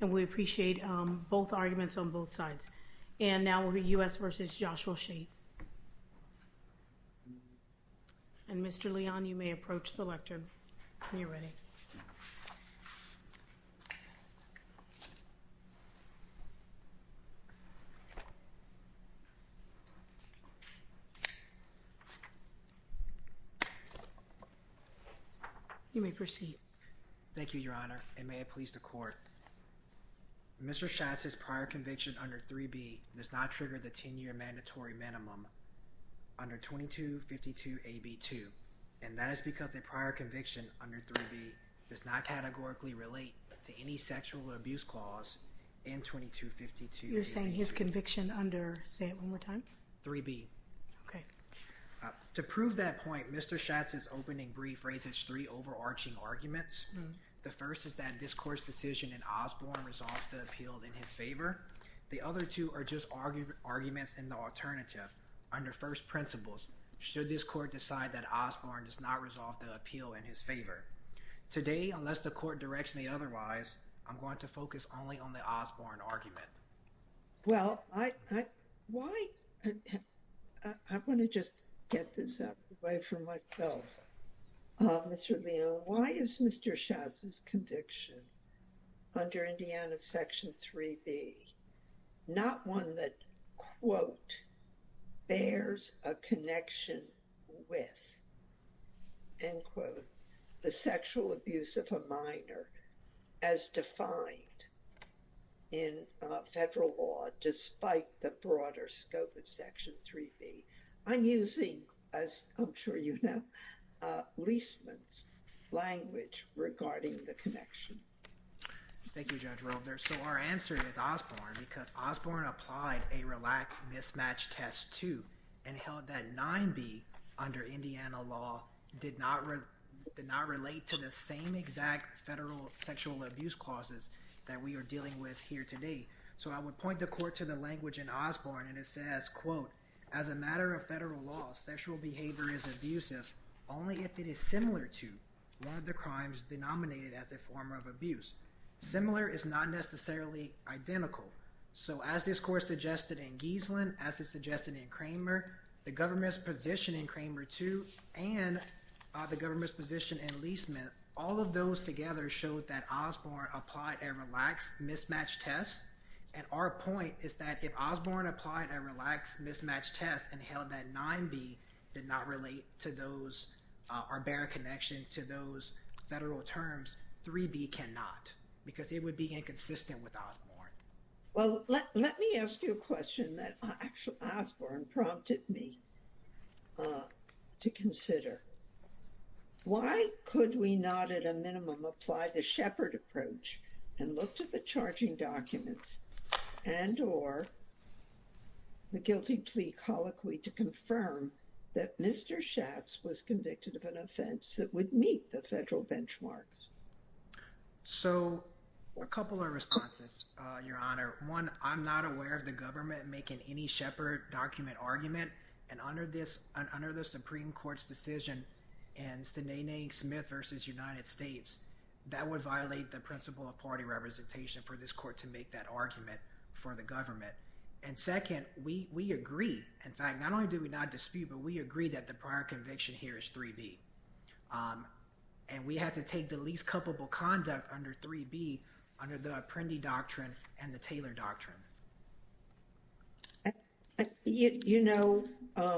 And we appreciate both arguments on both sides. And now U.S. v. Joshua Schatz. And Mr. Leon, you may approach the lectern when you're ready. You may proceed. Thank you, Your Honor, and may it please the Court. Mr. Schatz's prior conviction under 3B does not trigger the 10-year mandatory minimum under 2252AB2. And that is because a prior conviction under 3B does not categorically relate to any sexual abuse clause in 2252AB2. You're saying his conviction under, say it one more time? 3B. Okay. To prove that point, Mr. Schatz's opening brief raises three overarching arguments. The first is that this Court's decision in Osborne resolves the appeal in his favor. The other two are just arguments in the alternative, under first principles, should this Court decide that Osborne does not resolve the appeal in his favor. Today, unless the Court directs me otherwise, I'm going to focus only on the Osborne argument. Well, I want to just get this out of the way for myself, Mr. Leon. Why is Mr. Schatz's conviction under Indiana Section 3B not one that, quote, bears a connection with, end quote, the sexual abuse of a minor as defined in federal law despite the broader scope of Section 3B? I'm using, as I'm sure you know, Leisman's language regarding the connection. Thank you, Judge Rolder. So, our answer is Osborne because Osborne applied a relaxed mismatch test too and held that 9B under Indiana law did not relate to the same exact federal sexual abuse clauses that we are dealing with here today. So I would point the Court to the language in Osborne and it says, quote, as a matter of federal law, sexual behavior is abusive only if it is similar to one of the crimes denominated as a form of abuse. Similar is not necessarily identical. So as this Court suggested in Giesland, as it suggested in Kramer, the government's position in Kramer too, and the government's position in Leisman, all of those together showed that Osborne applied a relaxed mismatch test. And our point is that if Osborne applied a relaxed mismatch test and held that 9B did not relate to those, or bear a connection to those federal terms, 3B cannot because it would be inconsistent with Osborne. Well, let me ask you a question that Osborne prompted me to consider. Why could we not at a minimum apply the Shepard approach and look to the charging documents and or the guilty plea colloquy to confirm that Mr. Schatz was convicted of an offense that would meet the federal benchmarks? So, a couple of responses, Your Honor. One, I'm not aware of the government making any Shepard document argument, and under this, under the Supreme Court's decision in Sinéad Smith v. United States, that would violate the principle of party representation for this Court to make that argument for the government. And second, we agree, in fact, not only do we not dispute, but we agree that the prior conviction here is 3B. And we have to take the least culpable conduct under 3B under the Apprendi doctrine and the Taylor doctrine. You know, I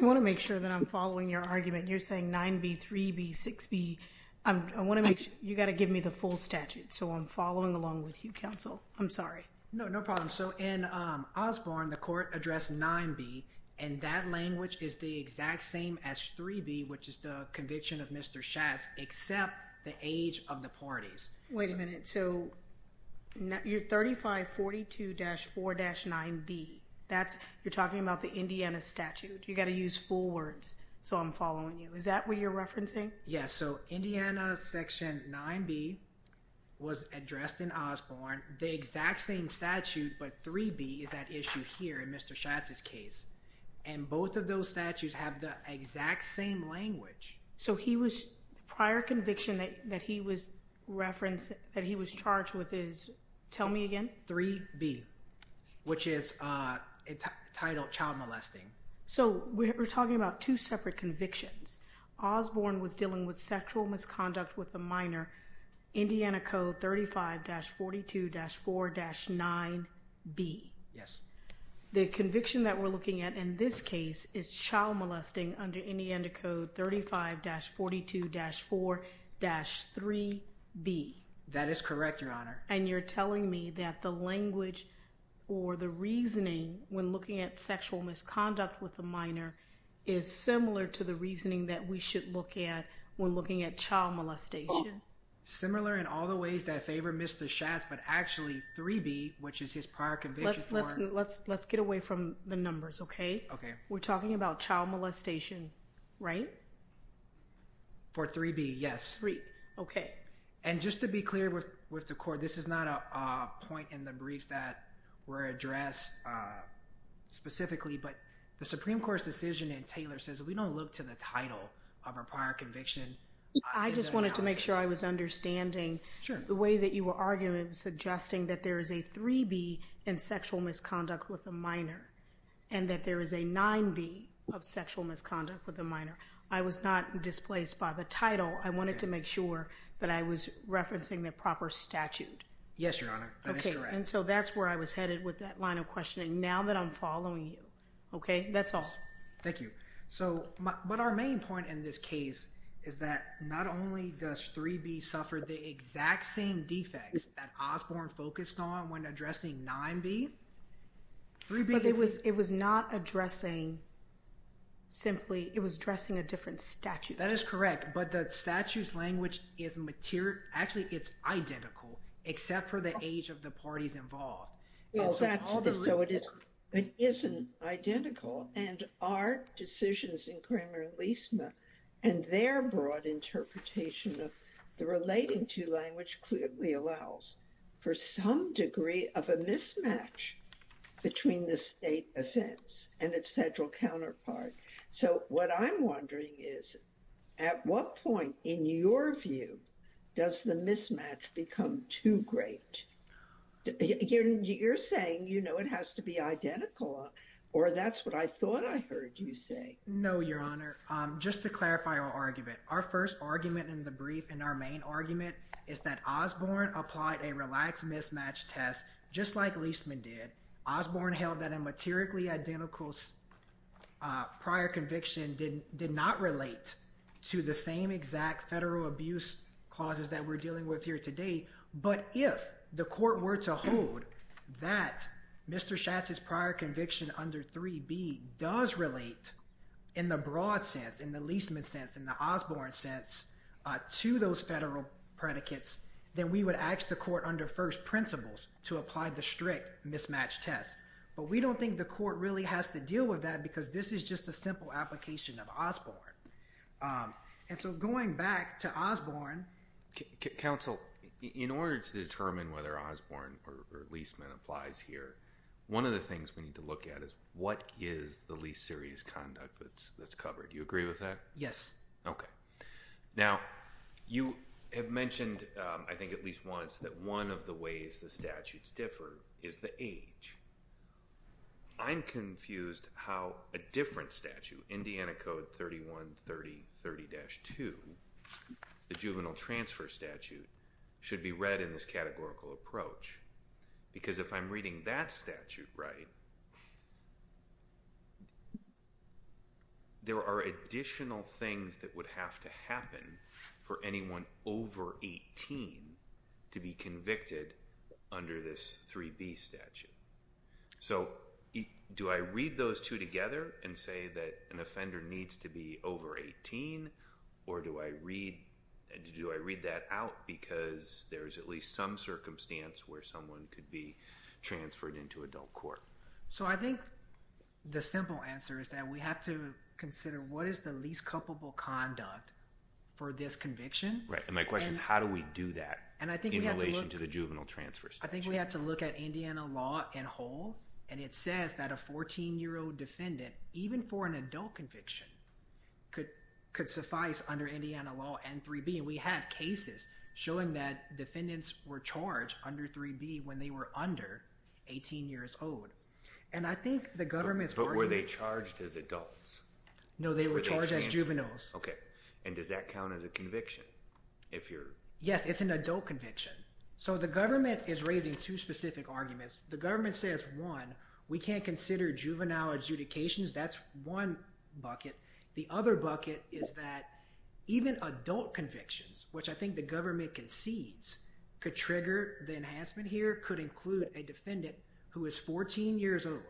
want to make sure that I'm following your argument. You're saying 9B, 3B, 6B. I want to make sure, you got to give me the full statute, so I'm following along with you, counsel. I'm sorry. No, no problem. So, in Osborne, the Court addressed 9B, and that language is the exact same as 3B, which is the conviction of Mr. Schatz, except the age of the parties. Wait a minute, so you're 3542-4-9B, that's, you're talking about the Indiana statute. You got to use full words, so I'm following you. Is that what you're referencing? Yes. So, Indiana section 9B was addressed in Osborne, the exact same statute, but 3B is at issue here in Mr. Schatz's case. And both of those statutes have the exact same language. So he was, the prior conviction that he was referenced, that he was charged with is, tell me again? 3B, which is entitled child molesting. So we're talking about two separate convictions. Osborne was dealing with sexual misconduct with a minor, Indiana Code 35-42-4-9B. Yes. The conviction that we're looking at in this case is child molesting under Indiana Code 35-42-4-3B. That is correct, Your Honor. And you're telling me that the language or the reasoning when looking at sexual misconduct with a minor is similar to the reasoning that we should look at when looking at child molestation? Similar in all the ways that favor Mr. Schatz, but actually 3B, which is his prior conviction for- Let's get away from the numbers, okay? Okay. We're talking about child molestation, right? For 3B, yes. 3, okay. And just to be clear with the court, this is not a point in the briefs that were addressed specifically, but the Supreme Court's decision in Taylor says if we don't look to the title of our prior conviction- I just wanted to make sure I was understanding the way that you were arguing and suggesting that there is a 3B in sexual misconduct with a minor and that there is a 9B of sexual misconduct with a minor. I was not displaced by the title. I wanted to make sure that I was referencing the proper statute. Yes, Your Honor. That is correct. And so that's where I was headed with that line of questioning, now that I'm following you, okay? That's all. Thank you. So, but our main point in this case is that not only does 3B suffer the exact same defects that Osborne focused on when addressing 9B, 3B- It was not addressing simply, it was addressing a different statute. That is correct, but the statute's language is, actually it's identical, except for the age of the parties involved. Oh, so it isn't identical, and our decisions in Cramer and Leisman, and their broad interpretation of the relating to language clearly allows for some degree of a mismatch between the state offense and its federal counterpart. So what I'm wondering is, at what point, in your view, does the mismatch become too great? You're saying, you know, it has to be identical, or that's what I thought I heard you say. No, Your Honor. Just to clarify our argument, our first argument in the brief, and our main argument, is that Osborne applied a relaxed mismatch test, just like Leisman did. Osborne held that a materially identical prior conviction did not relate to the same exact federal abuse clauses that we're dealing with here today. But if the court were to hold that Mr. Schatz's prior conviction under 3B does relate, in the broad sense, in the Leisman sense, in the Osborne sense, to those federal predicates, then we would ask the court under first principles to apply the strict mismatch test. But we don't think the court really has to deal with that because this is just a simple application of Osborne. And so going back to Osborne... Counsel, in order to determine whether Osborne or Leisman applies here, one of the things we need to look at is, what is the least serious conduct that's covered? You agree with that? Yes. Okay. Now, you have mentioned, I think at least once, that one of the ways the statutes differ is the age. I'm confused how a different statute, Indiana Code 3130.30-2, the juvenile transfer statute, should be read in this categorical approach. Because if I'm reading that statute right, there are additional things that would have to happen for anyone over 18 to be convicted under this 3B statute. So do I read those two together and say that an offender needs to be over 18? Or do I read that out because there's at least some circumstance where someone could be transferred into adult court? So I think the simple answer is that we have to consider what is the least culpable conduct for this conviction. And my question is, how do we do that in relation to the juvenile transfer statute? I think we have to look at Indiana law in whole. And it says that a 14-year-old defendant, even for an adult conviction, could suffice under Indiana law and 3B. And we have cases showing that defendants were charged under 3B when they were under 18 years old. And I think the government's argument... But were they charged as adults? No, they were charged as juveniles. Okay. And does that count as a conviction? Yes, it's an adult conviction. So the government is raising two specific arguments. The government says, one, we can't consider juvenile adjudications. That's one bucket. The other bucket is that even adult convictions, which I think the government concedes, could trigger the enhancement here. It could include a defendant who is 14 years old.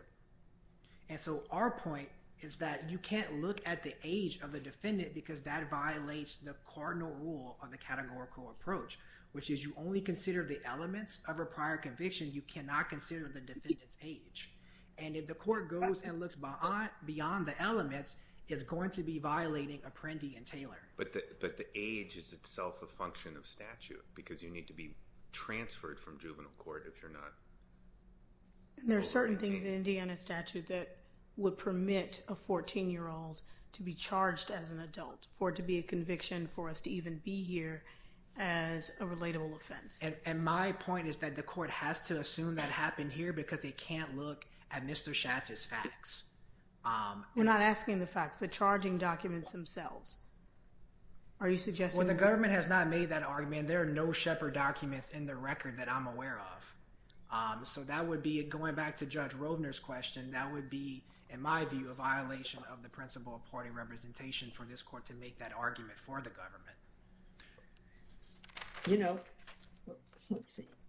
And so our point is that you can't look at the age of the defendant because that violates the cardinal rule of the categorical approach, which is you only consider the elements of a prior conviction. You cannot consider the defendant's age. And if the court goes and looks beyond the elements, it's going to be violating Apprendi and Taylor. But the age is itself a function of statute because you need to be transferred from juvenile court if you're not. And there are certain things in Indiana statute that would permit a 14-year-old to be charged as an adult for it to be a conviction for us to even be here as a relatable offense. And my point is that the court has to assume that happened here because they can't look at Mr. Schatz's facts. We're not asking the facts, the charging documents themselves. Are you suggesting that? When the government has not made that argument, there are no Shepard documents in the record that I'm aware of. So that would be, going back to Judge Roedner's question, that would be, in my view, a violation of the principle of party representation for this court to make that argument for the government. You know,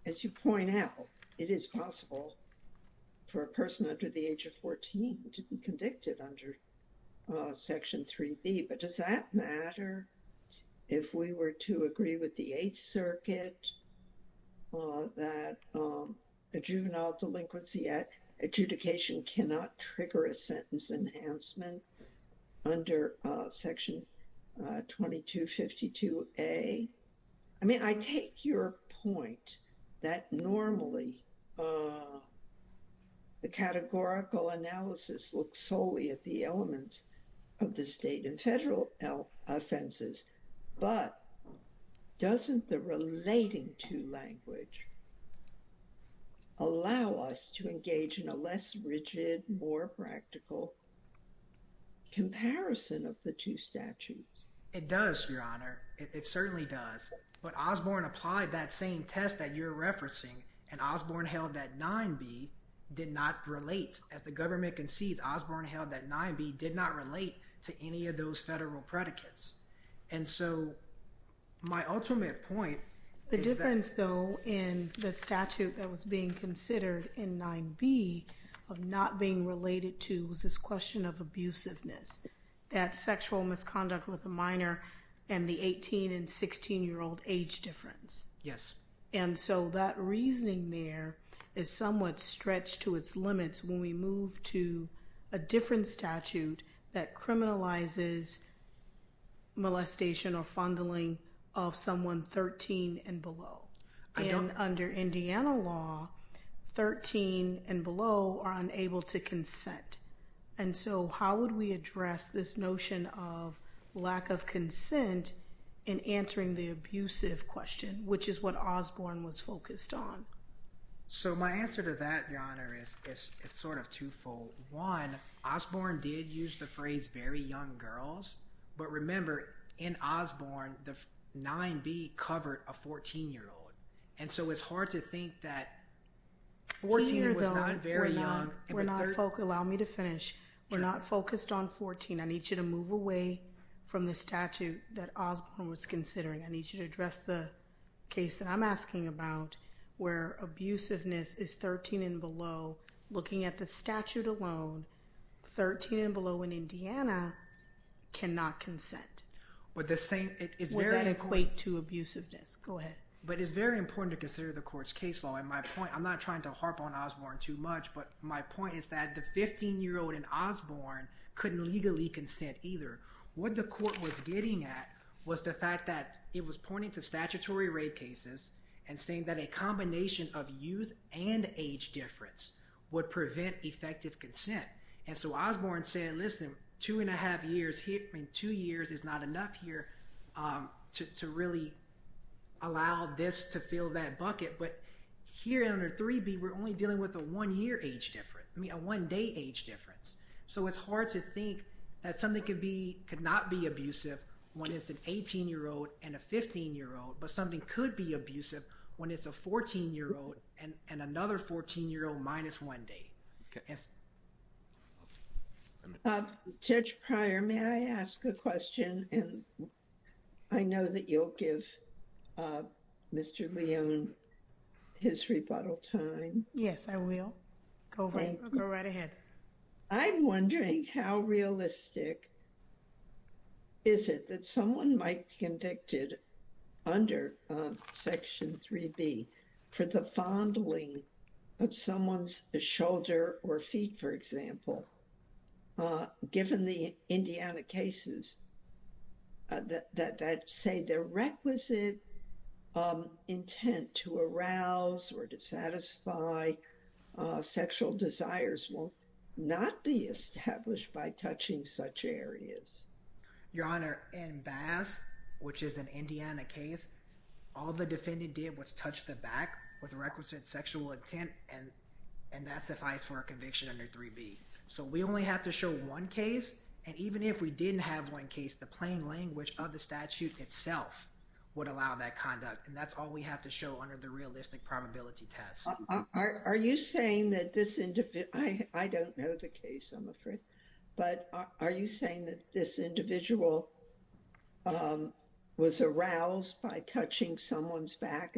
as you point out, it is possible for a person under the age of 14 to be convicted under Section 3B, but does that matter? If we were to agree with the Eighth Circuit that a juvenile delinquency adjudication cannot trigger a sentence enhancement under Section 2252A, I mean, I take your point that normally the categorical analysis looks solely at the elements of the state and federal offenses, but doesn't the relating to language allow us to engage in a less rigid, more practical comparison of the two statutes? It does, Your Honor. It certainly does. But Osborne applied that same test that you're referencing, and Osborne held that 9B did not relate. As the government concedes, Osborne held that 9B did not relate to any of those federal predicates. And so my ultimate point is that— The difference, though, in the statute that was being considered in 9B of not being related to was this question of abusiveness, that sexual misconduct with a minor and the 18 and 16-year-old age difference. Yes. And so that reasoning there is somewhat stretched to its limits when we move to a different statute that criminalizes molestation or fondling of someone 13 and below. And under Indiana law, 13 and below are unable to consent. And so how would we address this notion of lack of consent in answering the abusive question, which is what Osborne was focused on? So my answer to that, Your Honor, is sort of twofold. One, Osborne did use the phrase, very young girls. But remember, in Osborne, the 9B covered a 14-year-old. And so it's hard to think that 14 was not very young. Allow me to finish. We're not focused on 14. I need you to move away from the statute that Osborne was considering. I need you to address the case that I'm asking about where abusiveness is 13 and below. Looking at the statute alone, 13 and below in Indiana cannot consent. Would that equate to abusiveness? Go ahead. But it's very important to consider the Court's case law. My point, I'm not trying to harp on Osborne too much, but my point is that the 15-year-old in Osborne couldn't legally consent either. What the Court was getting at was the fact that it was pointing to statutory rape cases and saying that a combination of youth and age difference would prevent effective consent. And so Osborne said, listen, two and a half years, two years is not enough here to really allow this to fill that bucket. But here under 3B, we're only dealing with a one-year age difference, I mean a one-day age difference. So it's hard to think that something could not be abusive when it's an 18-year-old and a 15-year-old, but something could be abusive when it's a 14-year-old and another 14-year-old minus one day. Yes. Judge Pryor, may I ask a question? I know that you'll give Mr. Leone his rebuttal time. Yes, I will. Go right ahead. I'm wondering how realistic is it that someone might be convicted under Section 3B for the fondling of someone's shoulder or feet, for example, given the Indiana cases that say the requisite intent to arouse or to satisfy sexual desires will not be established by touching such areas? Your Honor, in Bass, which is an Indiana case, all the defendant did was touch the back with requisite sexual intent, and that sufficed for a conviction under 3B. So we only have to show one case, and even if we didn't have one case, the plain language of the statute itself would allow that conduct, and that's all we have to show under the realistic probability test. Are you saying that this individual – I don't know the case, I'm afraid, but are you saying that this individual was aroused by touching someone's back?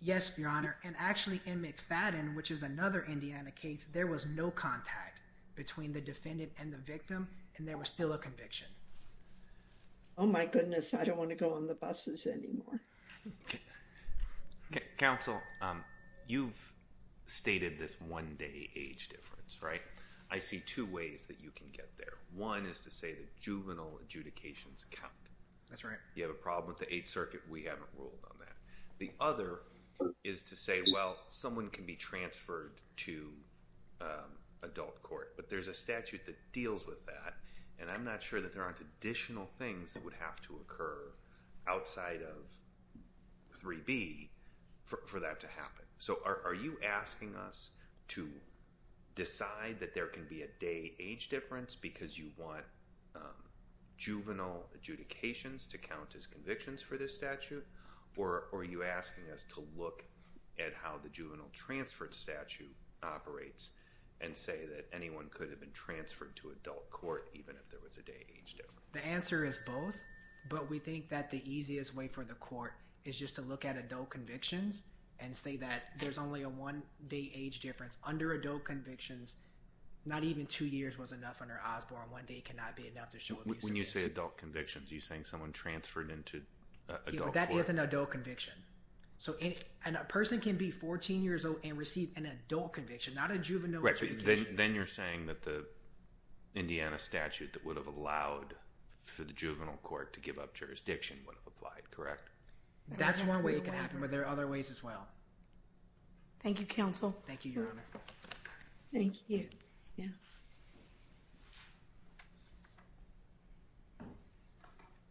Yes, Your Honor, and actually in McFadden, which is another Indiana case, there was no contact between the defendant and the victim, and there was still a conviction. Oh my goodness, I don't want to go on the buses anymore. Okay. Counsel, you've stated this one-day age difference, right? I see two ways that you can get there. One is to say that juvenile adjudications count. That's right. You have a problem with the Eighth Circuit, we haven't ruled on that. The other is to say, well, someone can be transferred to adult court, but there's a statute that deals with that, and I'm not sure that there aren't additional things that would have to occur outside of 3B for that to happen. So are you asking us to decide that there can be a day age difference because you want juvenile adjudications to count as convictions for this statute, or are you asking us to look at how the juvenile transfer statute operates and say that anyone could have been transferred to adult court even if there was a day age difference? The answer is both, but we think that the easiest way for the court is just to look at adult convictions and say that there's only a one-day age difference. Under adult convictions, not even two years was enough under Osborne. One day cannot be enough to show abuse. When you say adult convictions, are you saying someone transferred into adult court? That is an adult conviction. So a person can be 14 years old and receive an adult conviction, not a juvenile conviction. Then you're saying that the Indiana statute that would have allowed for the juvenile court to give up jurisdiction would have applied, correct? That's one way it could happen, but there are other ways as well. Thank you, counsel. Thank you, Your Honor. Thank you. Yeah.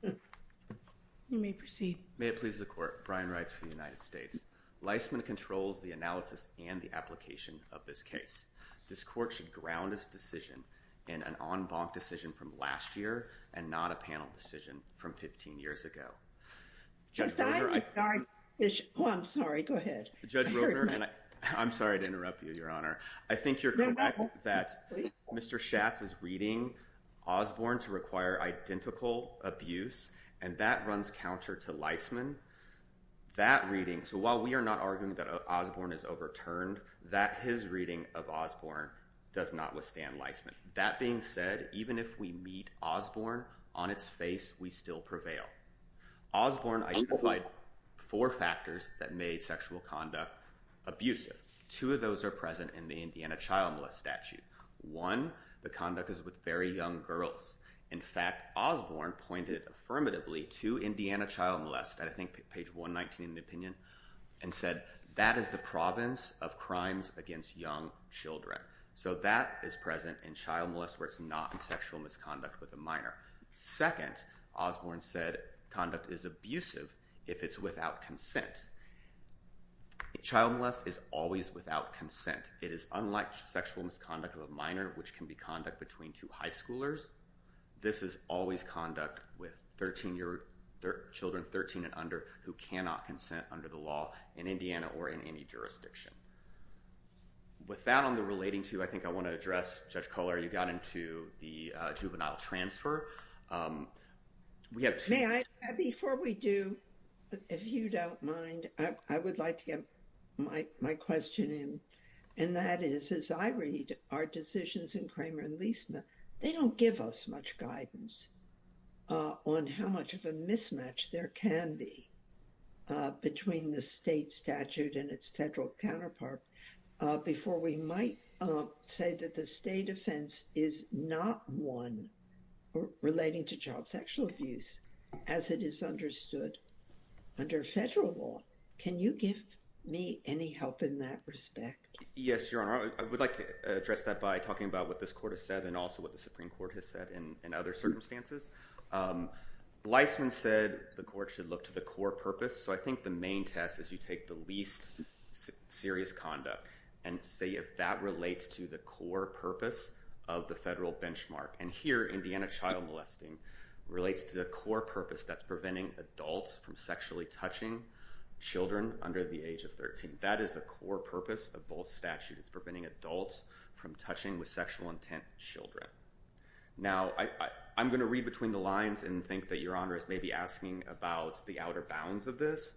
You may proceed. May it please the court. Brian writes for the United States. Leisman controls the analysis and the application of this case. This court should ground its decision in an en banc decision from last year and not a panel decision from 15 years ago. Judge Roeder, I'm sorry to interrupt you, Your Honor. I think you're correct that Mr. Schatz is reading Osborne to require identical abuse, and that runs counter to Leisman. That reading, so while we are not arguing that Osborne is overturned, that his reading of Osborne does not withstand Leisman. That being said, even if we meet Osborne on its face, we still prevail. Osborne identified four factors that made sexual conduct abusive. Two of those are present in the Indiana child molest statute. One, the conduct is with very young girls. In fact, Osborne pointed affirmatively to Indiana child molest, I think page 119 in the opinion, and said that is the province of crimes against young children. So that is present in child molest where it's not in sexual misconduct with a minor. Second, Osborne said conduct is abusive if it's without consent. Child molest is always without consent. It is unlike sexual misconduct of a minor, which can be conduct between two high schoolers. This is always conduct with children 13 and under who cannot consent under the law in Indiana or in any jurisdiction. With that on the relating to, I think I want to address Judge Kohler. You got into the juvenile transfer. Before we do, if you don't mind, I would like to get my question in. And that is, as I read our decisions in Kramer and Leisman, they don't give us much guidance on how much of a mismatch there can be between the state statute and its federal counterpart. Before we might say that the state offense is not one relating to child sexual abuse as it is understood under federal law. Can you give me any help in that respect? Yes, Your Honor. I would like to address that by talking about what this court has said and also what the Supreme Court has said in other circumstances. Leisman said the court should look to the core purpose. So I think the main test is you take the least serious conduct and see if that relates to the core purpose of the federal benchmark. And here, Indiana child molesting relates to the core purpose that's preventing adults from sexually touching children under the age of 13. That is the core purpose of both statutes, preventing adults from touching with sexual intent children. Now, I'm going to read between the lines and think that Your Honor is maybe asking about the outer bounds of this.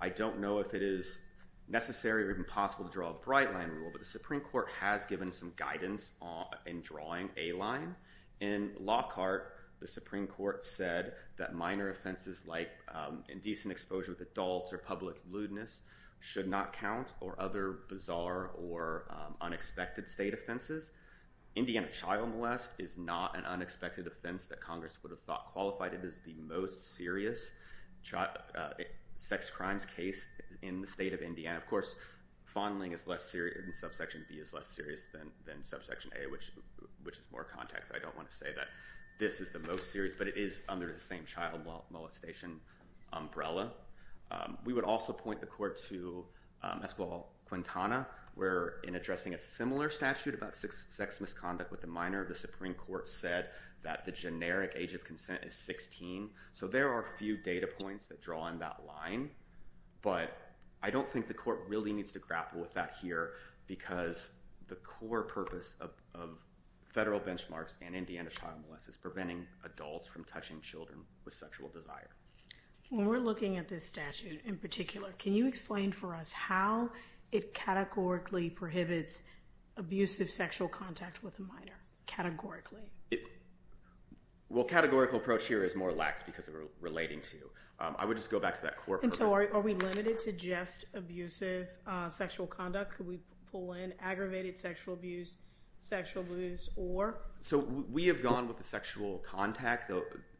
I don't know if it is necessary or even possible to draw a bright line rule, but the Supreme Court has given some guidance in drawing a line. In Lockhart, the Supreme Court said that minor offenses like indecent exposure with adults or public lewdness should not count or other bizarre or unexpected state offenses. Indiana child molest is not an unexpected offense that Congress would have thought qualified. It is the most serious sex crimes case in the state of Indiana. Of course, fondling in subsection B is less serious than subsection A, which is more context. I don't want to say that this is the most serious, but it is under the same child molestation umbrella. We would also point the court to Escobar-Quintana, where in addressing a similar statute about sex misconduct with the minor, the Supreme Court said that the generic age of consent is 16. So there are a few data points that draw on that line, but I don't think the court really needs to grapple with that here because the core purpose of federal benchmarks and Indiana child molest is preventing adults from touching children with sexual desire. When we're looking at this statute in particular, can you explain for us how it categorically prohibits abusive sexual contact with a minor? Categorically? Well, categorical approach here is more lax because we're relating to. I would just go back to that core purpose. And so are we limited to just abusive sexual conduct? Could we pull in aggravated sexual abuse, sexual abuse, or? So we have gone with the sexual contact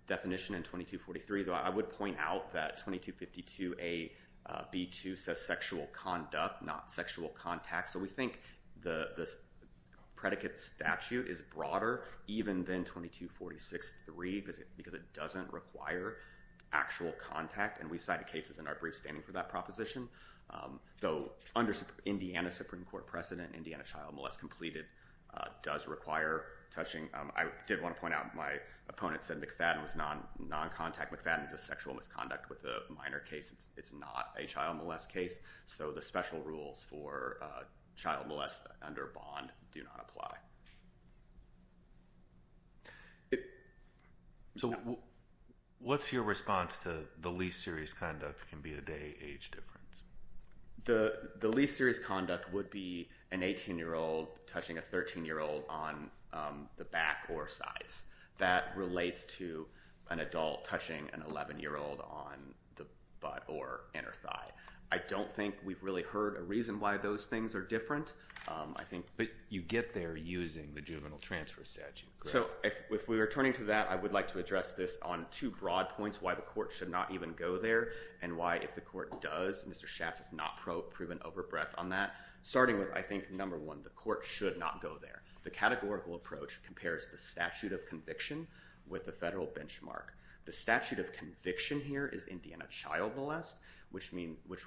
definition in 2243, though I would point out that 2252 AB2 says sexual conduct, not sexual contact. So we think the predicate statute is broader even than 2246-3 because it doesn't require actual contact. And we've cited cases in our brief standing for that proposition. Though under Indiana Supreme Court precedent, Indiana child molest completed does require touching. I did want to point out my opponent said McFadden was non-contact. McFadden is a sexual misconduct with a minor case. It's not a child molest case. So the special rules for child molest under bond do not apply. So what's your response to the least serious conduct can be a day age difference? The least serious conduct would be an 18-year-old touching a 13-year-old on the back or sides. That relates to an adult touching an 11-year-old on the butt or inner thigh. I don't think we've really heard a reason why those things are different. But you get there using the juvenile transfer statute. So if we were turning to that, I would like to address this on two broad points, why the court should not even go there and why, if the court does, Mr. Schatz has not proven over breadth on that. Starting with, I think, number one, the court should not go there. The categorical approach compares the statute of conviction with the federal benchmark. The statute of conviction here is Indiana child molest, which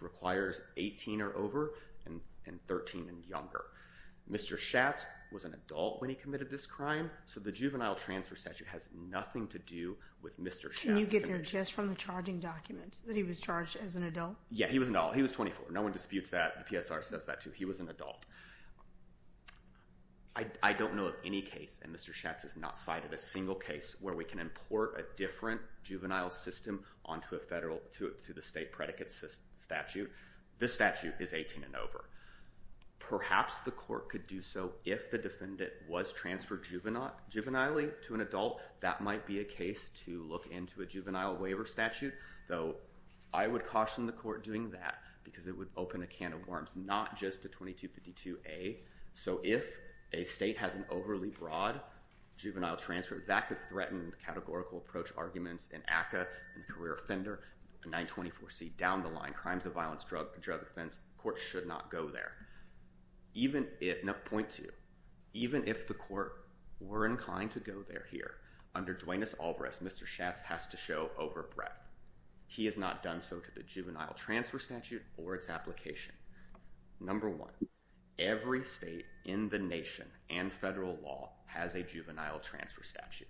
requires 18 or over and 13 and younger. Mr. Schatz was an adult when he committed this crime, so the juvenile transfer statute has nothing to do with Mr. Schatz. Can you get there just from the charging documents that he was charged as an adult? Yeah, he was an adult. He was 24. No one disputes that. The PSR says that, too. He was an adult. I don't know of any case, and Mr. Schatz has not cited a single case, where we can import a different juvenile system onto the state predicate statute. This statute is 18 and over. Perhaps the court could do so if the defendant was transferred juvenilely to an adult. That might be a case to look into a juvenile waiver statute. I would caution the court doing that, because it would open a can of worms, not just a 2252A. If a state has an overly broad juvenile transfer, that could threaten categorical approach arguments in ACCA, and career offender, 924C, down the line, crimes of violence, drug offense. The court should not go there. Point two. Even if the court were inclined to go there here, under Duenas-Albres, Mr. Schatz has to show overbreath. He has not done so to the juvenile transfer statute or its application. Number one, every state in the nation and federal law has a juvenile transfer statute.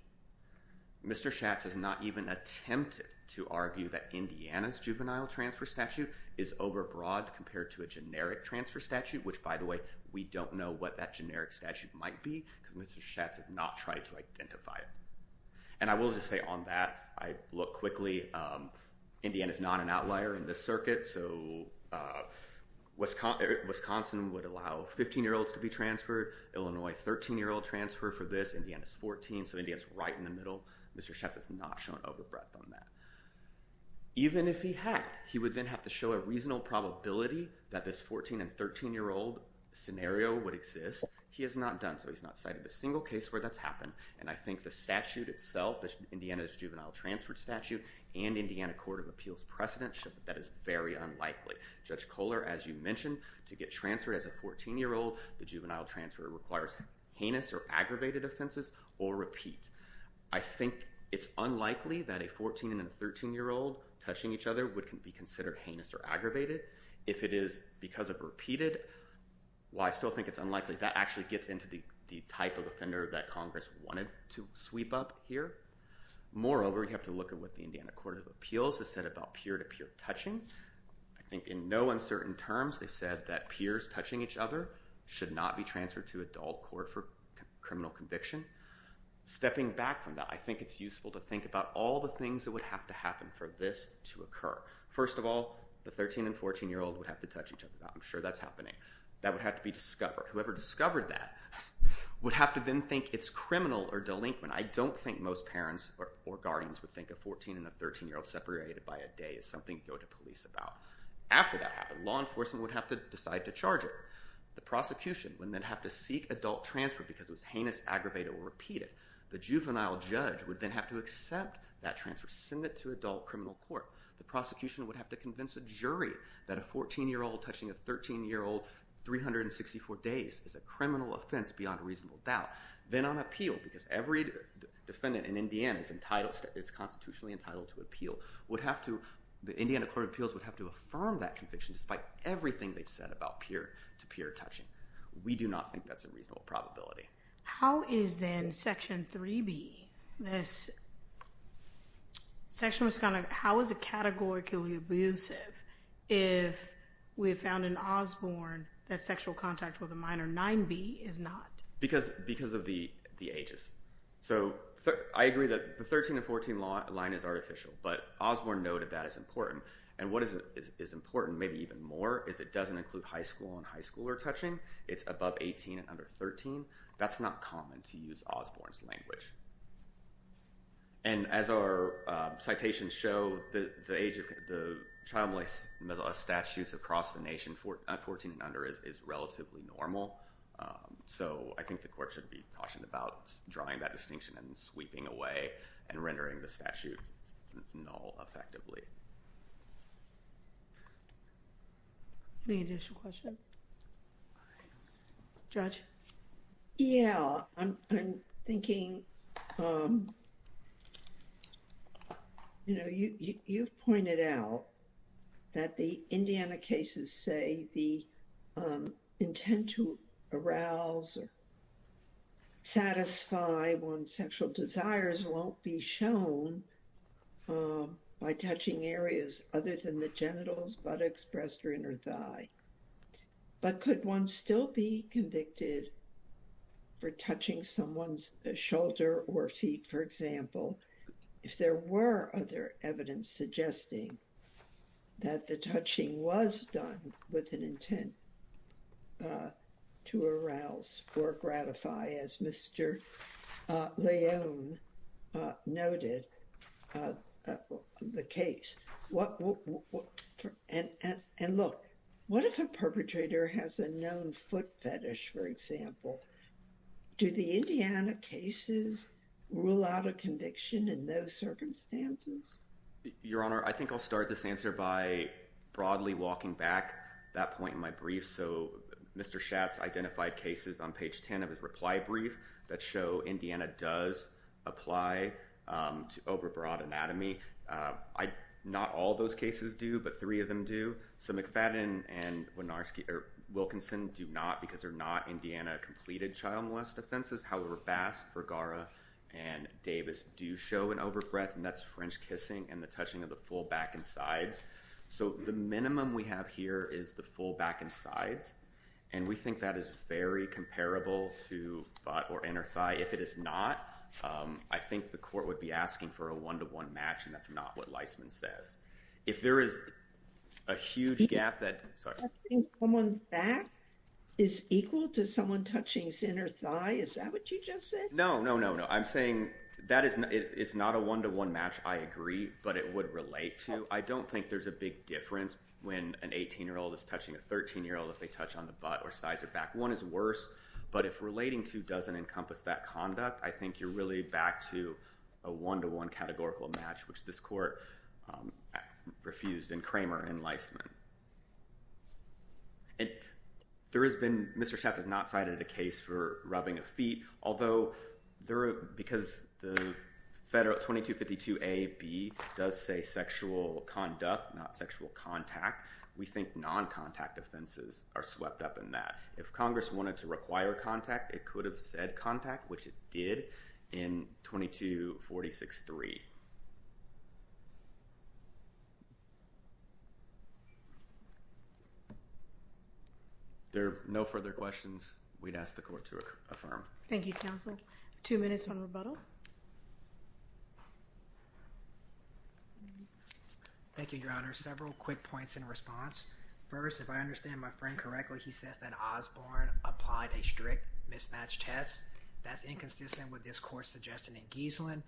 Mr. Schatz has not even attempted to argue that Indiana's juvenile transfer statute is overbroad compared to a generic transfer statute, which, by the way, we don't know what that generic statute might be, because Mr. Schatz has not tried to identify it. And I will just say on that, I look quickly. Indiana's not an outlier in this circuit, so Wisconsin would allow 15-year-olds to be transferred, Illinois, 13-year-old transfer for this, Indiana's 14, so Indiana's right in the middle. Mr. Schatz has not shown overbreath on that. Even if he had, he would then have to show a reasonable probability that this 14- and 13-year-old scenario would exist. He has not done so. He's not cited a single case where that's happened. And I think the statute itself, Indiana's juvenile transfer statute and Indiana Court of Appeals precedents show that that is very unlikely. Judge Kohler, as you mentioned, to get transferred as a 14-year-old, the juvenile transfer requires heinous or aggravated offenses or repeat. I think it's unlikely that a 14- and a 13-year-old touching each other would be considered heinous or aggravated. If it is because of repeated, while I still think it's unlikely, that actually gets into the type of offender that Congress wanted to sweep up here. Moreover, you have to look at what the Indiana Court of Appeals has said about peer-to-peer touching. I think in no uncertain terms, they said that peers touching each other should not be transferred to adult court for criminal conviction. Stepping back from that, I think it's useful to think about all the things that would have to happen for this to occur. First of all, the 13- and 14-year-old would have to touch each other. I'm sure that's happening. That would have to be discovered. Whoever discovered that would have to then think it's criminal or delinquent. I don't think most parents or guardians would think a 14- and a 13-year-old separated by a day is something to go to police about. After that happened, law enforcement would have to decide to charge it. The prosecution would then have to seek adult transfer because it was heinous, aggravated, or repeated. The juvenile judge would then have to accept that transfer, send it to adult criminal court. The prosecution would have to convince a jury that a 14-year-old touching a 13-year-old 364 days is a criminal offense beyond reasonable doubt. Then on appeal, because every defendant in Indiana is constitutionally entitled to appeal, the Indiana Court of Appeals would have to affirm that conviction despite everything they've said about peer-to-peer touching. We do not think that's a reasonable probability. How is then Section 3B, this section was kind of, how is it categorically abusive if we found in Osborne that sexual contact with a minor 9B is not? Because of the ages. I agree that the 13 and 14 line is artificial, but Osborne noted that is important. What is important, maybe even more, is it doesn't include high school and high schooler touching. It's above 18 and under 13. That's not common to use Osborne's language. As our citations show, the child molestation statutes across the nation at 14 and under is relatively normal. I think the court should be cautious about drawing that distinction and sweeping away and rendering the statute null effectively. Any additional questions? Judge? Yeah, I'm thinking, you know, you've pointed out that the Indiana cases say the intent to arouse or satisfy one's sexual desires won't be shown by touching areas other than the genitals, buttocks, breast, or inner thigh. But could one still be convicted for touching someone's shoulder or feet, for example, if there were other evidence suggesting that the touching was done with an intent to arouse or gratify, as Mr. Leone noted, the case? And look, what if a perpetrator has a known foot fetish, for example? Do the Indiana cases rule out a conviction in those circumstances? Your Honor, I think I'll start this answer by broadly walking back that point in my brief. So Mr. Schatz identified cases on page 10 of his reply brief that show Indiana does apply to overbroad anatomy. Not all those cases do, but three of them do. So McFadden and Wilkinson do not, because they're not Indiana-completed child molest offenses. However, Bass, Vergara, and Davis do show an overbreadth, and that's French kissing and the touching of the full back and sides. So the minimum we have here is the full back and sides. And we think that is very comparable to butt or inner thigh. If it is not, I think the court would be asking for a one-to-one match, and that's not what Leisman says. If there is a huge gap that— Touching someone's back is equal to someone touching center thigh? Is that what you just said? No, no, no, no. I'm saying that it's not a one-to-one match, I agree, but it would relate to. I don't think there's a big difference when an 18-year-old is touching a 13-year-old if they touch on the butt or sides or back. One is worse, but if relating to doesn't encompass that conduct, I think you're really back to a one-to-one categorical match, which this court refused in Kramer and Leisman. And there has been—Mr. Schatz has not cited a case for rubbing of feet, although there— because the federal 2252a.b. does say sexual conduct, not sexual contact, we think non-contact offenses are swept up in that. If Congress wanted to require contact, it could have said contact, which it did in 2246.3. If there are no further questions, we'd ask the court to affirm. Thank you, counsel. Two minutes on rebuttal. Thank you, Your Honor. Several quick points in response. First, if I understand my friend correctly, he says that Osborne applied a strict mismatch test. That's inconsistent with this court's suggestion in Gieselin,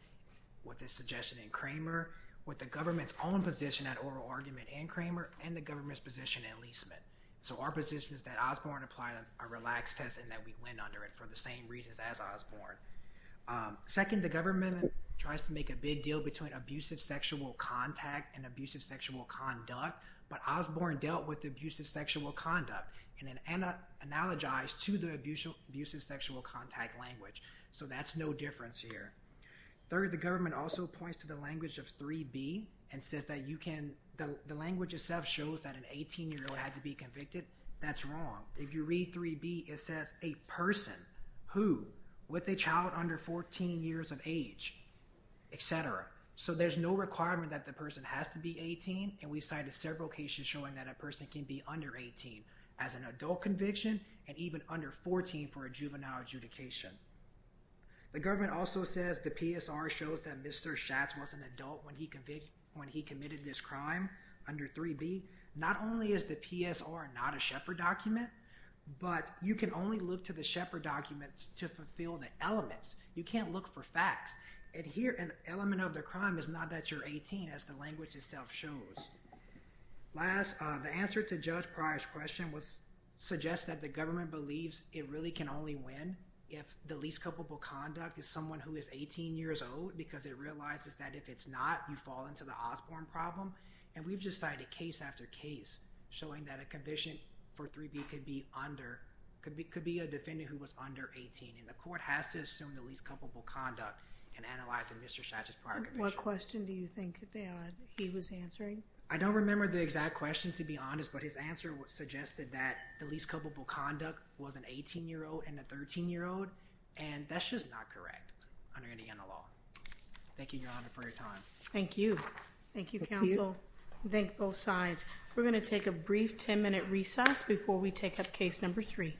with the suggestion in Kramer, with the government's own position at oral argument in Kramer, and the government's position in Leisman. So our position is that Osborne applied a relaxed test and that we win under it for the same reasons as Osborne. Second, the government tries to make a big deal between abusive sexual contact and abusive sexual conduct, but Osborne dealt with abusive sexual conduct and analogized to the abusive sexual contact language. So that's no difference here. Third, the government also points to the language of 3b and says that the language itself shows that an 18-year-old had to be convicted. That's wrong. If you read 3b, it says a person who, with a child under 14 years of age, et cetera. So there's no requirement that the person has to be 18, and we cited several cases showing that a person can be under 18 as an adult conviction and even under 14 for a juvenile adjudication. The government also says the PSR shows that Mr. Schatz was an adult when he committed this crime under 3b. Not only is the PSR not a Shepard document, but you can only look to the Shepard documents to fulfill the elements. You can't look for facts. Here, an element of the crime is not that you're 18, as the language itself shows. Last, the answer to Judge Pryor's question was suggests that the government believes it really can only win if the least culpable conduct is someone who is 18 years old because it realizes that if it's not, you fall into the Osborne problem. And we've just cited case after case showing that a conviction for 3b could be under – could be a defendant who was under 18, and the court has to assume the least culpable conduct. And analyzing Mr. Schatz's prior conviction. What question do you think that he was answering? I don't remember the exact questions, to be honest, but his answer suggested that the least culpable conduct was an 18-year-old and a 13-year-old, and that's just not correct under Indiana law. Thank you, Your Honor, for your time. Thank you. Thank you, counsel. Thank you. Thank both sides. We're going to take a brief 10-minute recess before we take up case number three.